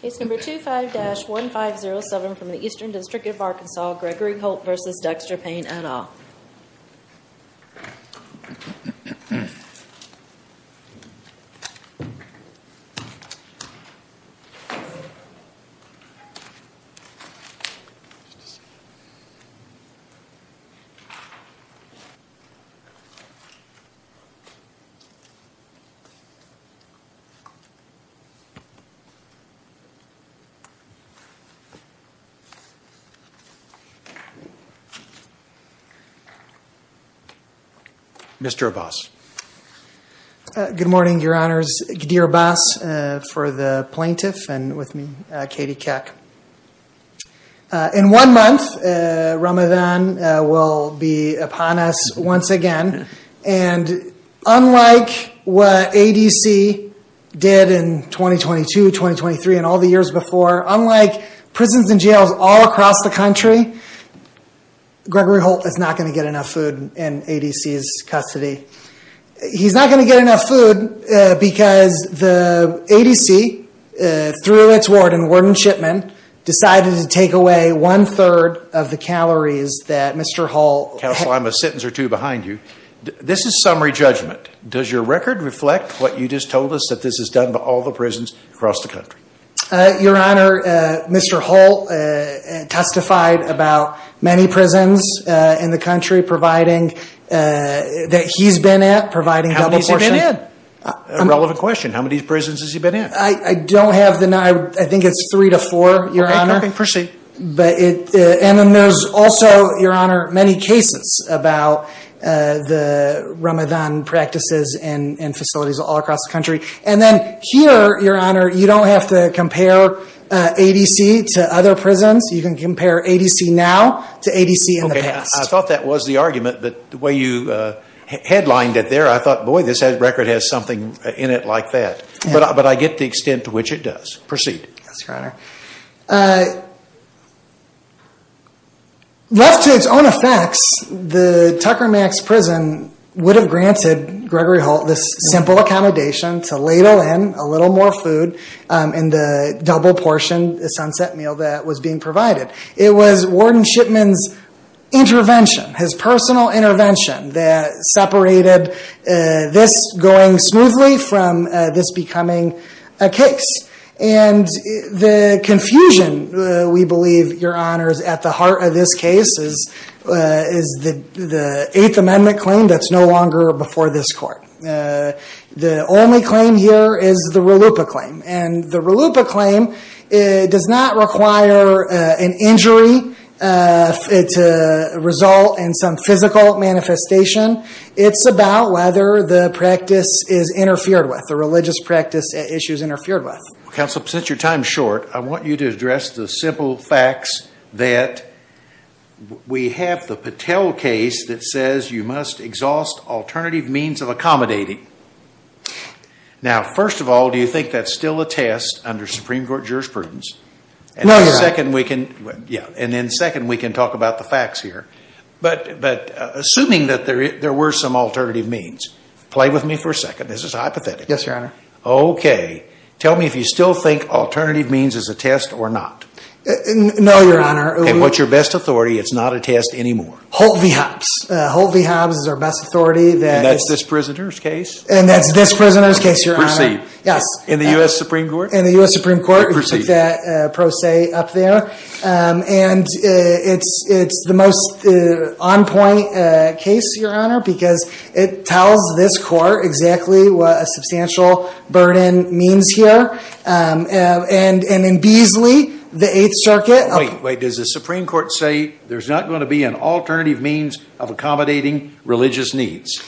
Case number 25-1507 from the Eastern District of Arkansas, Gregory Holt v. Dexter Payne et al. Mr. Abbas. Good morning, your honors. Ghadir Abbas for the plaintiff and with me, Katie Keck. In one month, Ramadan will be upon us once again. And unlike what ADC did in 2022, 2023, and all the years before, unlike prisons and jails all across the country, Gregory Holt is not going to get enough food in ADC's custody. He's not going to get enough food because the ADC, through its warden, the warden-shipman, decided to take away one-third of the calories that Mr. Holt... Counsel, I'm a sentence or two behind you. This is summary judgment. Does your record reflect what you just told us that this has done to all the prisons across the country? Your honor, Mr. Holt testified about many prisons in the country providing that he's been at, providing... How many has he been in? A relevant question. How many prisons has he been in? I don't have the number. I think it's three to four, your honor. And then there's also, your honor, many cases about the Ramadan practices and facilities all across the country. And then here, your honor, you don't have to compare ADC to other prisons. You can compare ADC now to ADC in the past. Okay. I thought that was the argument, but the way you headlined it there, I thought, boy, this record has something in it like that. But I get the extent to which it does. Proceed. Yes, your honor. Left to its own effects, the Tucker Max prison would have granted Gregory Holt this simple accommodation to ladle in a little more food in the double portion, the sunset meal that was being provided. It was Warden Shipman's intervention, his personal intervention, that separated this going smoothly from this becoming a case. And the confusion, we believe, your honor, is at the heart of this case, is the Eighth Amendment claim that's no longer before this court. The only claim here is the RLUIPA claim. And the RLUIPA claim does not require an injury to result in some physical manifestation. It's about whether the practice is interfered with, the religious practice issue is interfered with. Counsel, since your time is short, I want you to address the simple facts that we have the Patel case that says you must exhaust alternative means of accommodating. Now, first of all, do you think that's still a test under Supreme Court jurisprudence? No, your honor. And then second, we can talk about the facts here. But assuming that there were some alternative means, play with me for a second. This is hypothetical. Yes, your honor. Okay. Tell me if you still think alternative means is a test or not. No, your honor. And what's your best authority? It's not a test anymore. Holt v. Hobbs. Holt v. Hobbs is our best authority. And that's this prisoner's case? And that's this prisoner's case, your honor. Proceed. Yes. In the U.S. Supreme Court? In the U.S. Supreme Court. Proceed. And it's the most on-point case, your honor, because it tells this court exactly what a substantial burden means here. And in Beazley, the Eighth Circuit. Wait. Wait. Does the Supreme Court say there's not going to be an alternative means of accommodating religious needs?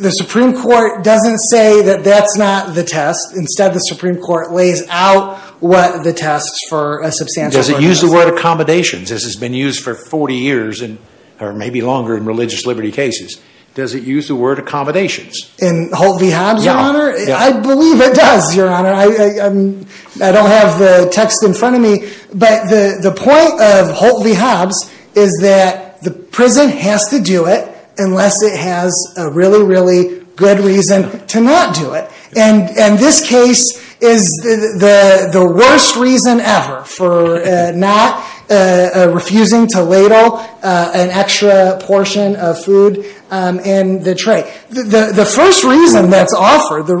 The Supreme Court doesn't say that that's not the test. Instead, the Supreme Court lays out what the test for a substantial burden is. Does it use the word accommodations? This has been used for 40 years, or maybe longer, in religious liberty cases. Does it use the word accommodations? In Holt v. Hobbs, your honor? I believe it does, your honor. I don't have the text in front of me. But the point of Holt v. Hobbs is that the prison has to do it unless it has a really, really good reason to not do it. And this case is the worst reason ever for not refusing to ladle an extra portion of food in the tray. The first reason that's offered, the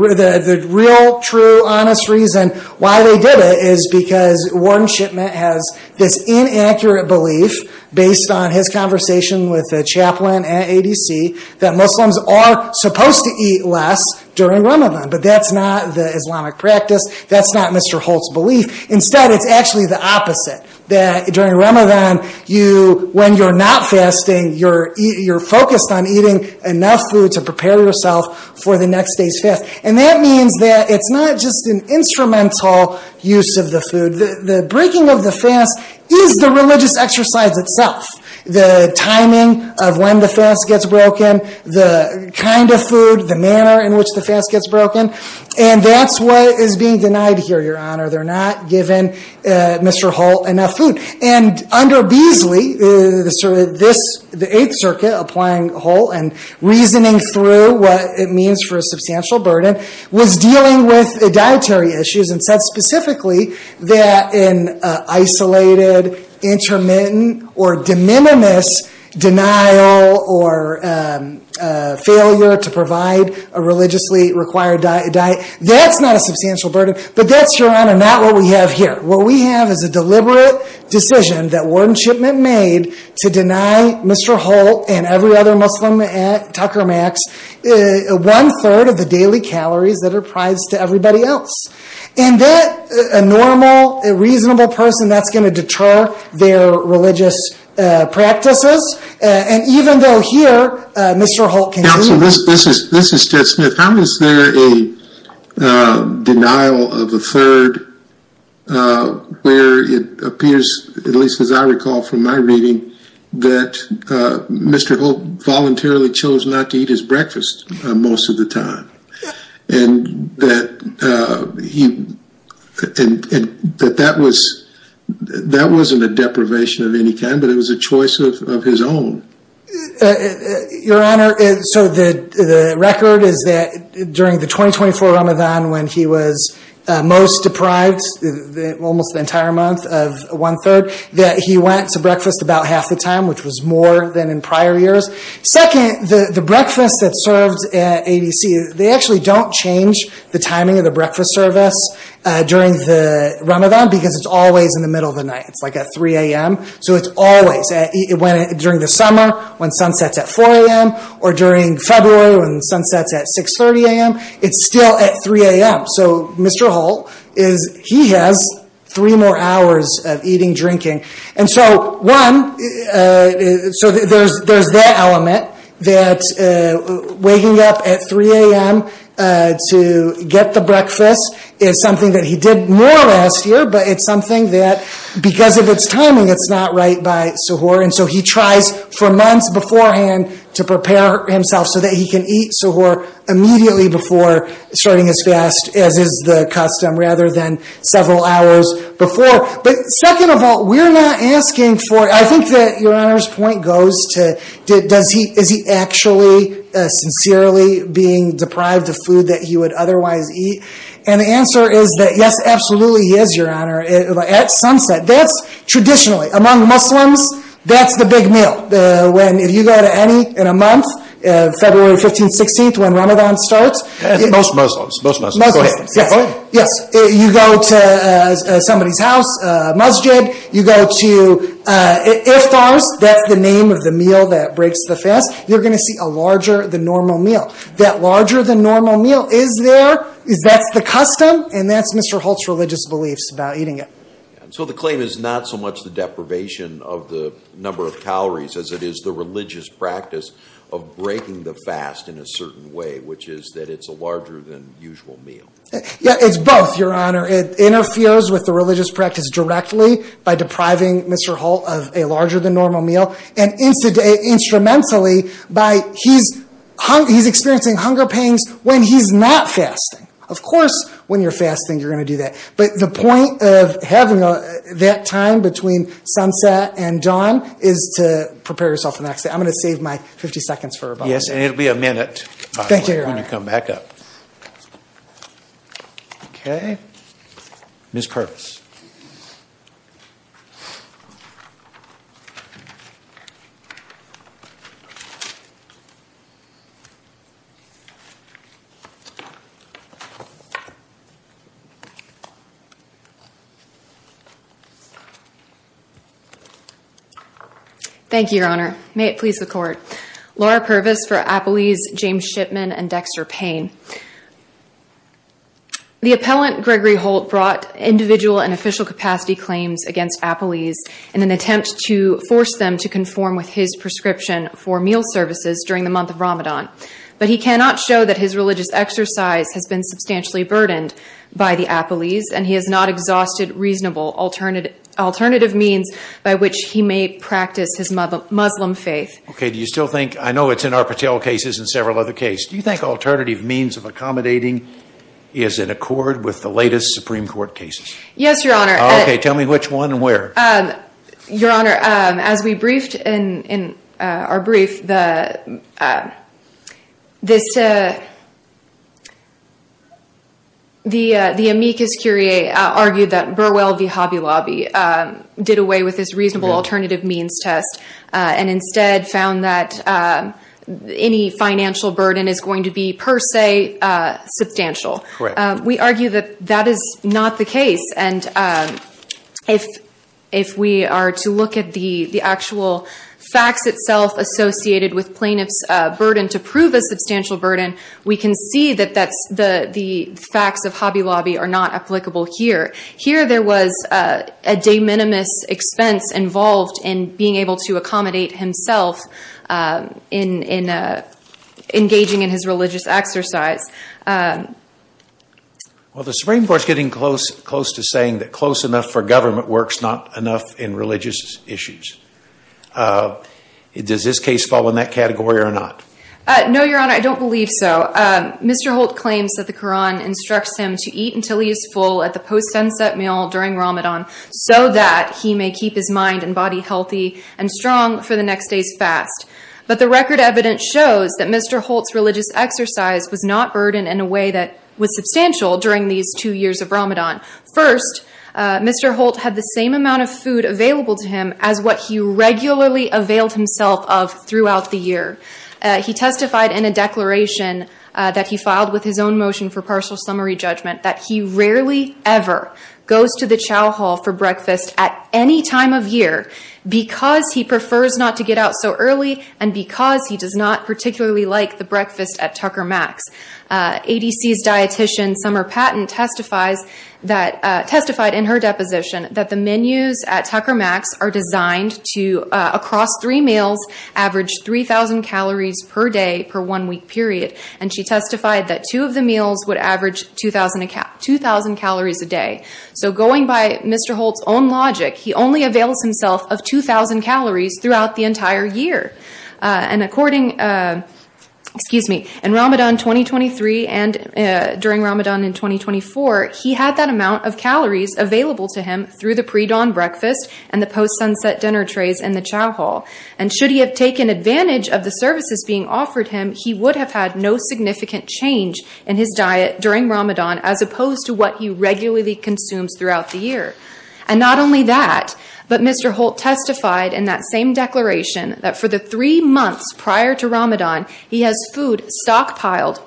real, true, honest reason why they did it, is because Warren Shipman has this inaccurate belief, based on his conversation with a chaplain at ADC, that Muslims are supposed to eat less during Ramadan. But that's not the Islamic practice. That's not Mr. Holt's belief. Instead, it's actually the opposite. That during Ramadan, when you're not fasting, you're focused on eating enough food to prepare yourself for the next day's fast. And that means that it's not just an instrumental use of the food. The breaking of the fast is the religious exercise itself. The timing of when the fast gets broken, the kind of food, the manner in which the fast gets broken. And that's what is being denied here, your honor. They're not given, Mr. Holt, enough food. And under Beasley, the Eighth Circuit, applying Holt and reasoning through what it means for a substantial burden, was dealing with dietary issues and said specifically that in isolated, intermittent, or de minimis denial, or failure to provide a religiously required diet, that's not a substantial burden. But that's, your honor, not what we have here. What we have is a deliberate decision that Wardenship made to deny Mr. Holt and every other Muslim at Tucker Max one-third of the daily calories that are prized to everybody else. And that, a normal, reasonable person, that's going to deter their religious practices. And even though here, Mr. Holt can do that. So this is Ted Smith. How is there a denial of a third where it appears, at least as I recall from my reading, that Mr. Holt voluntarily chose not to eat his breakfast most of the time? And that he, that that was, that wasn't a deprivation of any kind, but it was a choice of his own. Your honor, so the record is that during the 2024 Ramadan when he was most deprived, almost the entire month of one-third, that he went to breakfast about half the time, which was more than in prior years. Second, the breakfast that's served at ABC, they actually don't change the timing of the breakfast service during the Ramadan because it's always in the middle of the night. It's like at 3 a.m. So it's always, during the summer when sun sets at 4 a.m. or during February when the sun sets at 6.30 a.m., it's still at 3 a.m. So Mr. Holt is, he has three more hours of eating, drinking. And so one, so there's that element that waking up at 3 a.m. to get the breakfast is something that he did more last year, but it's something that because of its timing, it's not right by suhoor. And so he tries for months beforehand to prepare himself so that he can eat suhoor immediately before starting his fast, as is the custom, rather than several hours before. But second of all, we're not asking for, I think that your honor's point goes to, is he actually sincerely being deprived of food that he would otherwise eat? And the answer is that yes, absolutely he is, your honor. At sunset, that's traditionally, among Muslims, that's the big meal. When, if you go to any, in a month, February 15th, 16th, when Ramadan starts. Most Muslims, most Muslims. Yes, you go to somebody's house, a masjid, you go to iftars, that's the name of the meal that breaks the fast, you're going to see a larger than normal meal. That larger than normal meal is there, that's the custom, and that's Mr. Holt's religious beliefs about eating it. So the claim is not so much the deprivation of the number of calories as it is the religious practice of breaking the fast in a certain way, which is that it's a larger than usual meal. Yeah, it's both, your honor. It interferes with the religious practice directly by depriving Mr. Holt of a larger than normal meal, and instrumentally by, he's experiencing hunger pains when he's not fasting. Of course, when you're fasting, you're going to do that, but the point of having that time between sunset and dawn is to prepare yourself for the next day. I'm going to save my 50 seconds for Ramadan. Yes, and it'll be a minute, by the way, when you come back up. Okay. Ms. Purvis. Thank you, your honor. May it please the court. Laura Purvis for Appelese, James Shipman, and Dexter Payne. The appellant, Gregory Holt, brought individual and official capacity claims against Appelese in an attempt to force them to conform with his prescription for meal services during the month of Ramadan, but he cannot show that his religious exercise has been substantially burdened by the Appelese, and he has not exhausted reasonable alternative means by which he may practice his Muslim faith. Okay. Do you still think, I know it's in our Patel cases and several other cases, do you think alternative means of accommodating is in accord with the latest Supreme Court cases? Yes, your honor. Okay. Tell me which one and where. Your honor, as we briefed in our brief, the amicus curiae argued that Burwell v. Hobby Lobby did away with his reasonable alternative means test and instead found that any financial burden is going to be per se substantial. Correct. We argue that that is not the case, and if we are to look at the actual facts itself associated with plaintiff's burden to prove a substantial burden, we can see that the facts of Hobby Lobby are not applicable here. Here, there was a de minimis expense involved in being able to accommodate himself in engaging in his religious exercise. Well, the Supreme Court is getting close to saying that close enough for government works, not enough in religious issues. Does this case fall in that category or not? No, your honor, I don't believe so. Mr. Holt claims that the Quran instructs him to eat until he is full at the post sunset meal during Ramadan so that he may keep his mind and body healthy and strong for the next day's fast. But the record evidence shows that Mr. Holt's religious exercise was not burdened in a way that was substantial during these two years of Ramadan. First, Mr. Holt had the same amount of food available to him as what he regularly availed himself of throughout the year. He testified in a declaration that he filed with his own motion for partial summary judgment that he rarely ever goes to the chow hall for breakfast at any time of year because he prefers not to get out so early and because he does not particularly like the breakfast at Tucker Mac's. ADC's dietician, Summer Patton, testified in her deposition that the menus at Tucker Mac's are designed to, across three meals, average 3,000 calories per day per one week period. And she testified that two of the meals would average 2,000 calories a day. So going by Mr. Holt's own logic, he only avails himself of 2,000 calories throughout the entire year. And according, excuse me, in Ramadan 2023 and during Ramadan in 2024, he had that amount of calories available to him through the pre-dawn breakfast and the post-sunset dinner trays in the chow hall. And should he have taken advantage of the services being offered him, he would have had no significant change in his diet during Ramadan as opposed to what he regularly consumes throughout the year. And not only that, but Mr. Holt testified in that same declaration that for the three months prior to Ramadan, he has food stockpiled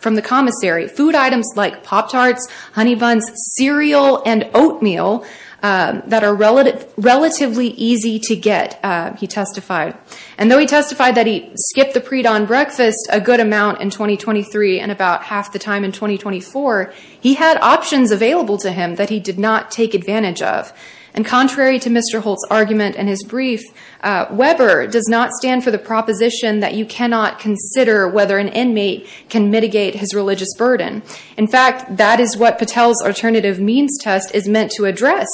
from the commissary, food items like pop tarts, honey buns, cereal, and oatmeal that are relatively easy to get, he testified. And though he testified that he skipped the pre-dawn breakfast a good amount in 2023 and about half the time in 2024, he had options available to him that he did not take advantage of. And contrary to Mr. Holt's argument in his brief, Weber does not stand for the proposition that you cannot consider whether an inmate can mitigate his religious burden. In fact, that is what Patel's alternative means test is meant to address,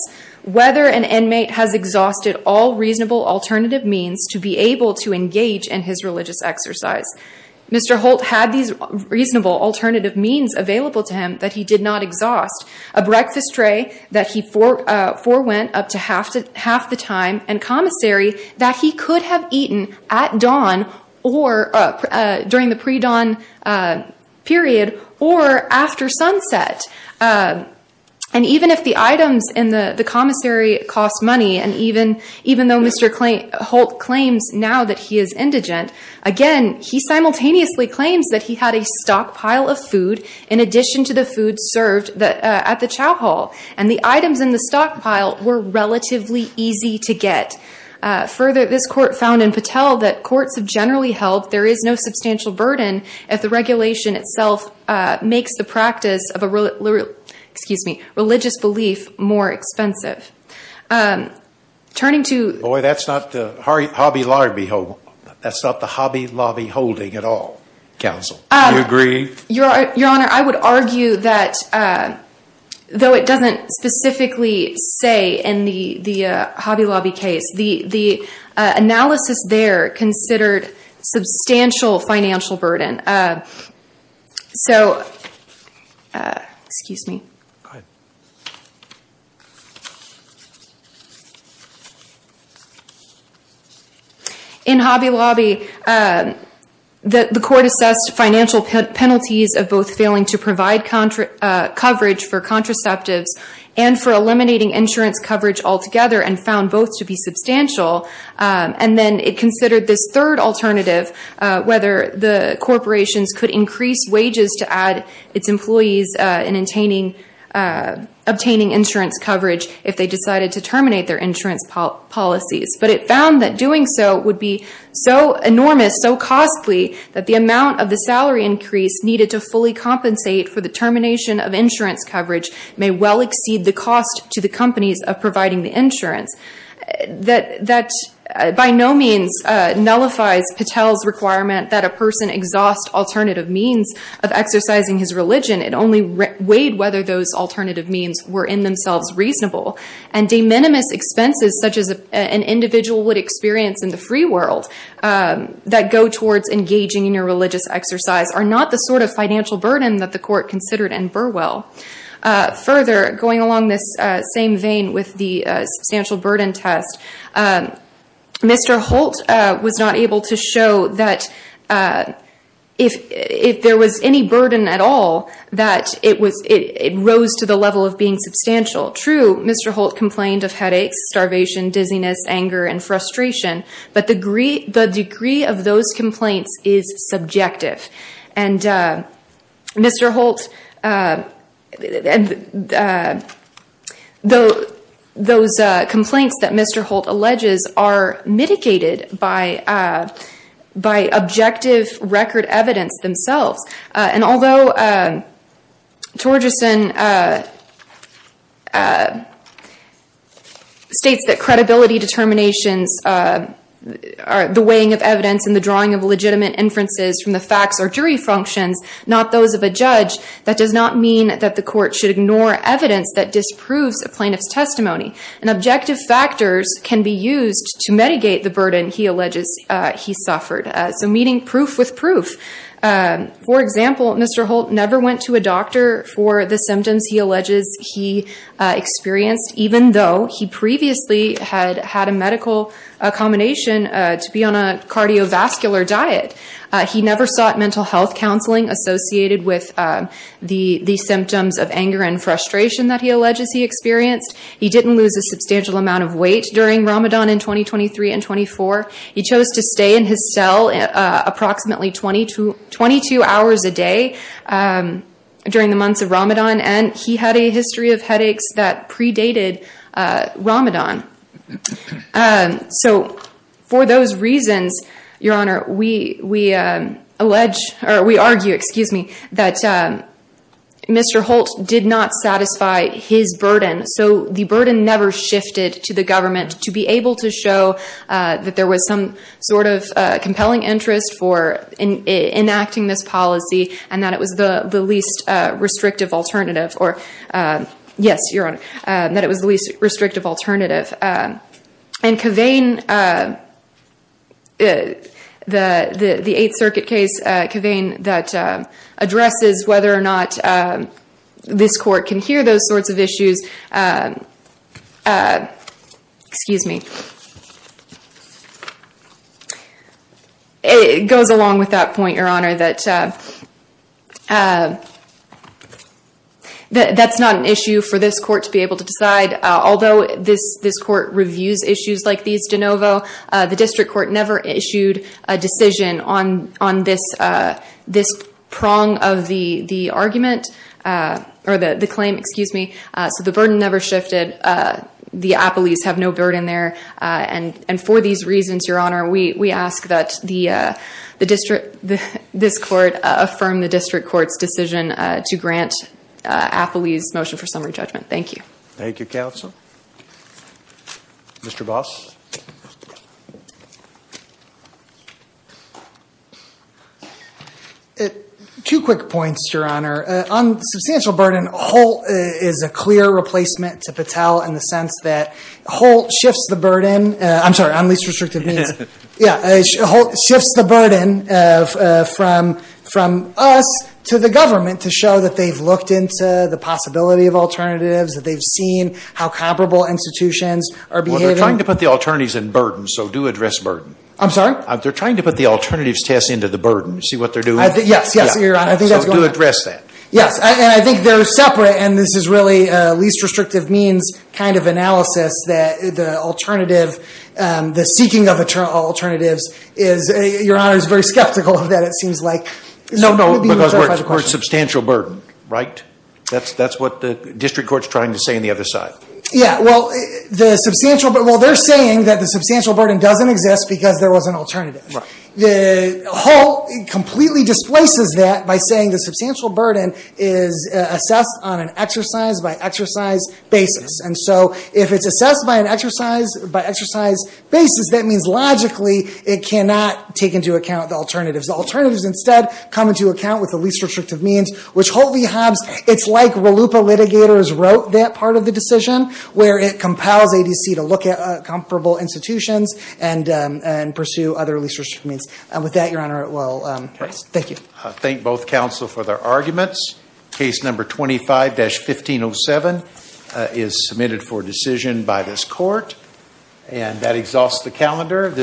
whether an inmate has exhausted all reasonable alternative means to be able to engage in his religious exercise. Mr. Holt had these reasonable alternative means available to him that he did not exhaust. A breakfast tray that he forewent up to half the time, and commissary that he could have eaten at dawn, or during the pre-dawn period, or after sunset. And even if the items in the commissary cost money, and even though Mr. Holt claims now that he is indigent, again, he simultaneously claims that he had a stockpile of food in addition to the food served at the chow hall. And the items in the stockpile were relatively easy to get. Further, this court found in Patel that courts have generally held there is no substantial burden if the regulation itself makes the practice of a religious belief more expensive. Turning to- Boy, that's not the Hobby Lobby holding at all, counsel. Do you agree? Your Honor, I would argue that, though it doesn't specifically say in the Hobby Lobby case, the analysis there considered substantial financial burden. So, excuse me. Go ahead. In Hobby Lobby, the court assessed financial penalties of both failing to provide coverage for contraceptives and for eliminating insurance coverage altogether, and found both to be substantial. And then it considered this third alternative, whether the corporations could increase wages to add its employees in obtaining insurance coverage if they decided to terminate their insurance policies. But it found that doing so would be so enormous, so costly, that the amount of the salary increase needed to fully compensate for the termination of insurance coverage may well exceed the cost to the companies of providing the insurance. That by no means nullifies Patel's requirement that a person exhaust alternative means of exercising his religion. It only weighed whether those alternative means were in themselves reasonable. And de minimis expenses such as an individual would experience in the free world that go towards engaging in a religious exercise are not the sort of financial burden that the court considered in Burwell. Further, going along this same vein with the substantial burden test, Mr. Holt was not able to show that if there was any burden at all, that it rose to the level of being substantial. True, Mr. Holt complained of headaches, starvation, dizziness, anger, and frustration, but the degree of those complaints is subjective. And those complaints that Mr. Holt alleges are mitigated by objective record evidence themselves. And although Torgerson states that credibility determinations are the weighing of evidence and the drawing of legitimate inferences from the facts or jury functions, not those of a judge, that does not mean that the court should ignore evidence that disproves a plaintiff's testimony. And objective factors can be used to mitigate the burden he alleges he suffered. So meeting proof with proof. For example, Mr. Holt never went to a doctor for the symptoms he alleges he experienced, even though he previously had had a medical combination to be on a cardiovascular diet. He never sought mental health counseling associated with the symptoms of anger and frustration that he alleges he experienced. He didn't lose a substantial amount of weight during Ramadan in 2023 and 2024. He chose to stay in his cell approximately 22 hours a day during the months of Ramadan, and he had a history of headaches that predated Ramadan. So for those reasons, Your Honor, we argue that Mr. Holt did not satisfy his burden. So the burden never shifted to the government to be able to show that there was some sort of compelling interest for enacting this policy and that it was the least restrictive alternative. Or, yes, Your Honor, that it was the least restrictive alternative. And Kavain, the Eighth Circuit case, Kavain, that addresses whether or not this court can hear those sorts of issues, excuse me, it goes along with that point, Your Honor, that that's not an issue for this court to be able to decide. Although this court reviews issues like these de novo, the district court never issued a decision on this prong of the argument or the claim, excuse me, so the burden never shifted. The appellees have no burden there. And for these reasons, Your Honor, we ask that this court affirm the district court's decision to grant appellees motion for summary judgment. Thank you. Thank you, counsel. Mr. Boss? Two quick points, Your Honor. On substantial burden, Holt is a clear replacement to Patel in the sense that Holt shifts the burden. I'm sorry, on least restrictive means. Yeah, Holt shifts the burden from us to the government to show that they've looked into the possibility of alternatives, that they've seen how comparable institutions are behaving. Well, they're trying to put the alternatives in burden, so do address burden. I'm sorry? They're trying to put the alternatives test into the burden. See what they're doing? Yes, yes, Your Honor. So do address that. Yes, and I think they're separate, and this is really a least restrictive means kind of analysis that the alternative, the seeking of alternatives is, Your Honor, is very skeptical of that, it seems like. No, no, because we're at substantial burden, right? That's what the district court's trying to say on the other side. Yeah, well, the substantial, well, they're saying that the substantial burden doesn't exist because there was an alternative. Right. Holt completely displaces that by saying the substantial burden is assessed on an exercise-by-exercise basis, and so if it's assessed by an exercise-by-exercise basis, that means logically it cannot take into account the alternatives. The alternatives instead come into account with the least restrictive means, which Holt v. Hobbs, it's like RLUIPA litigators wrote that part of the decision where it compels ADC to look at comparable institutions and pursue other least restrictive means. With that, Your Honor, thank you. I thank both counsel for their arguments. Case number 25-1507 is submitted for decision by this court, and that exhausts the calendar.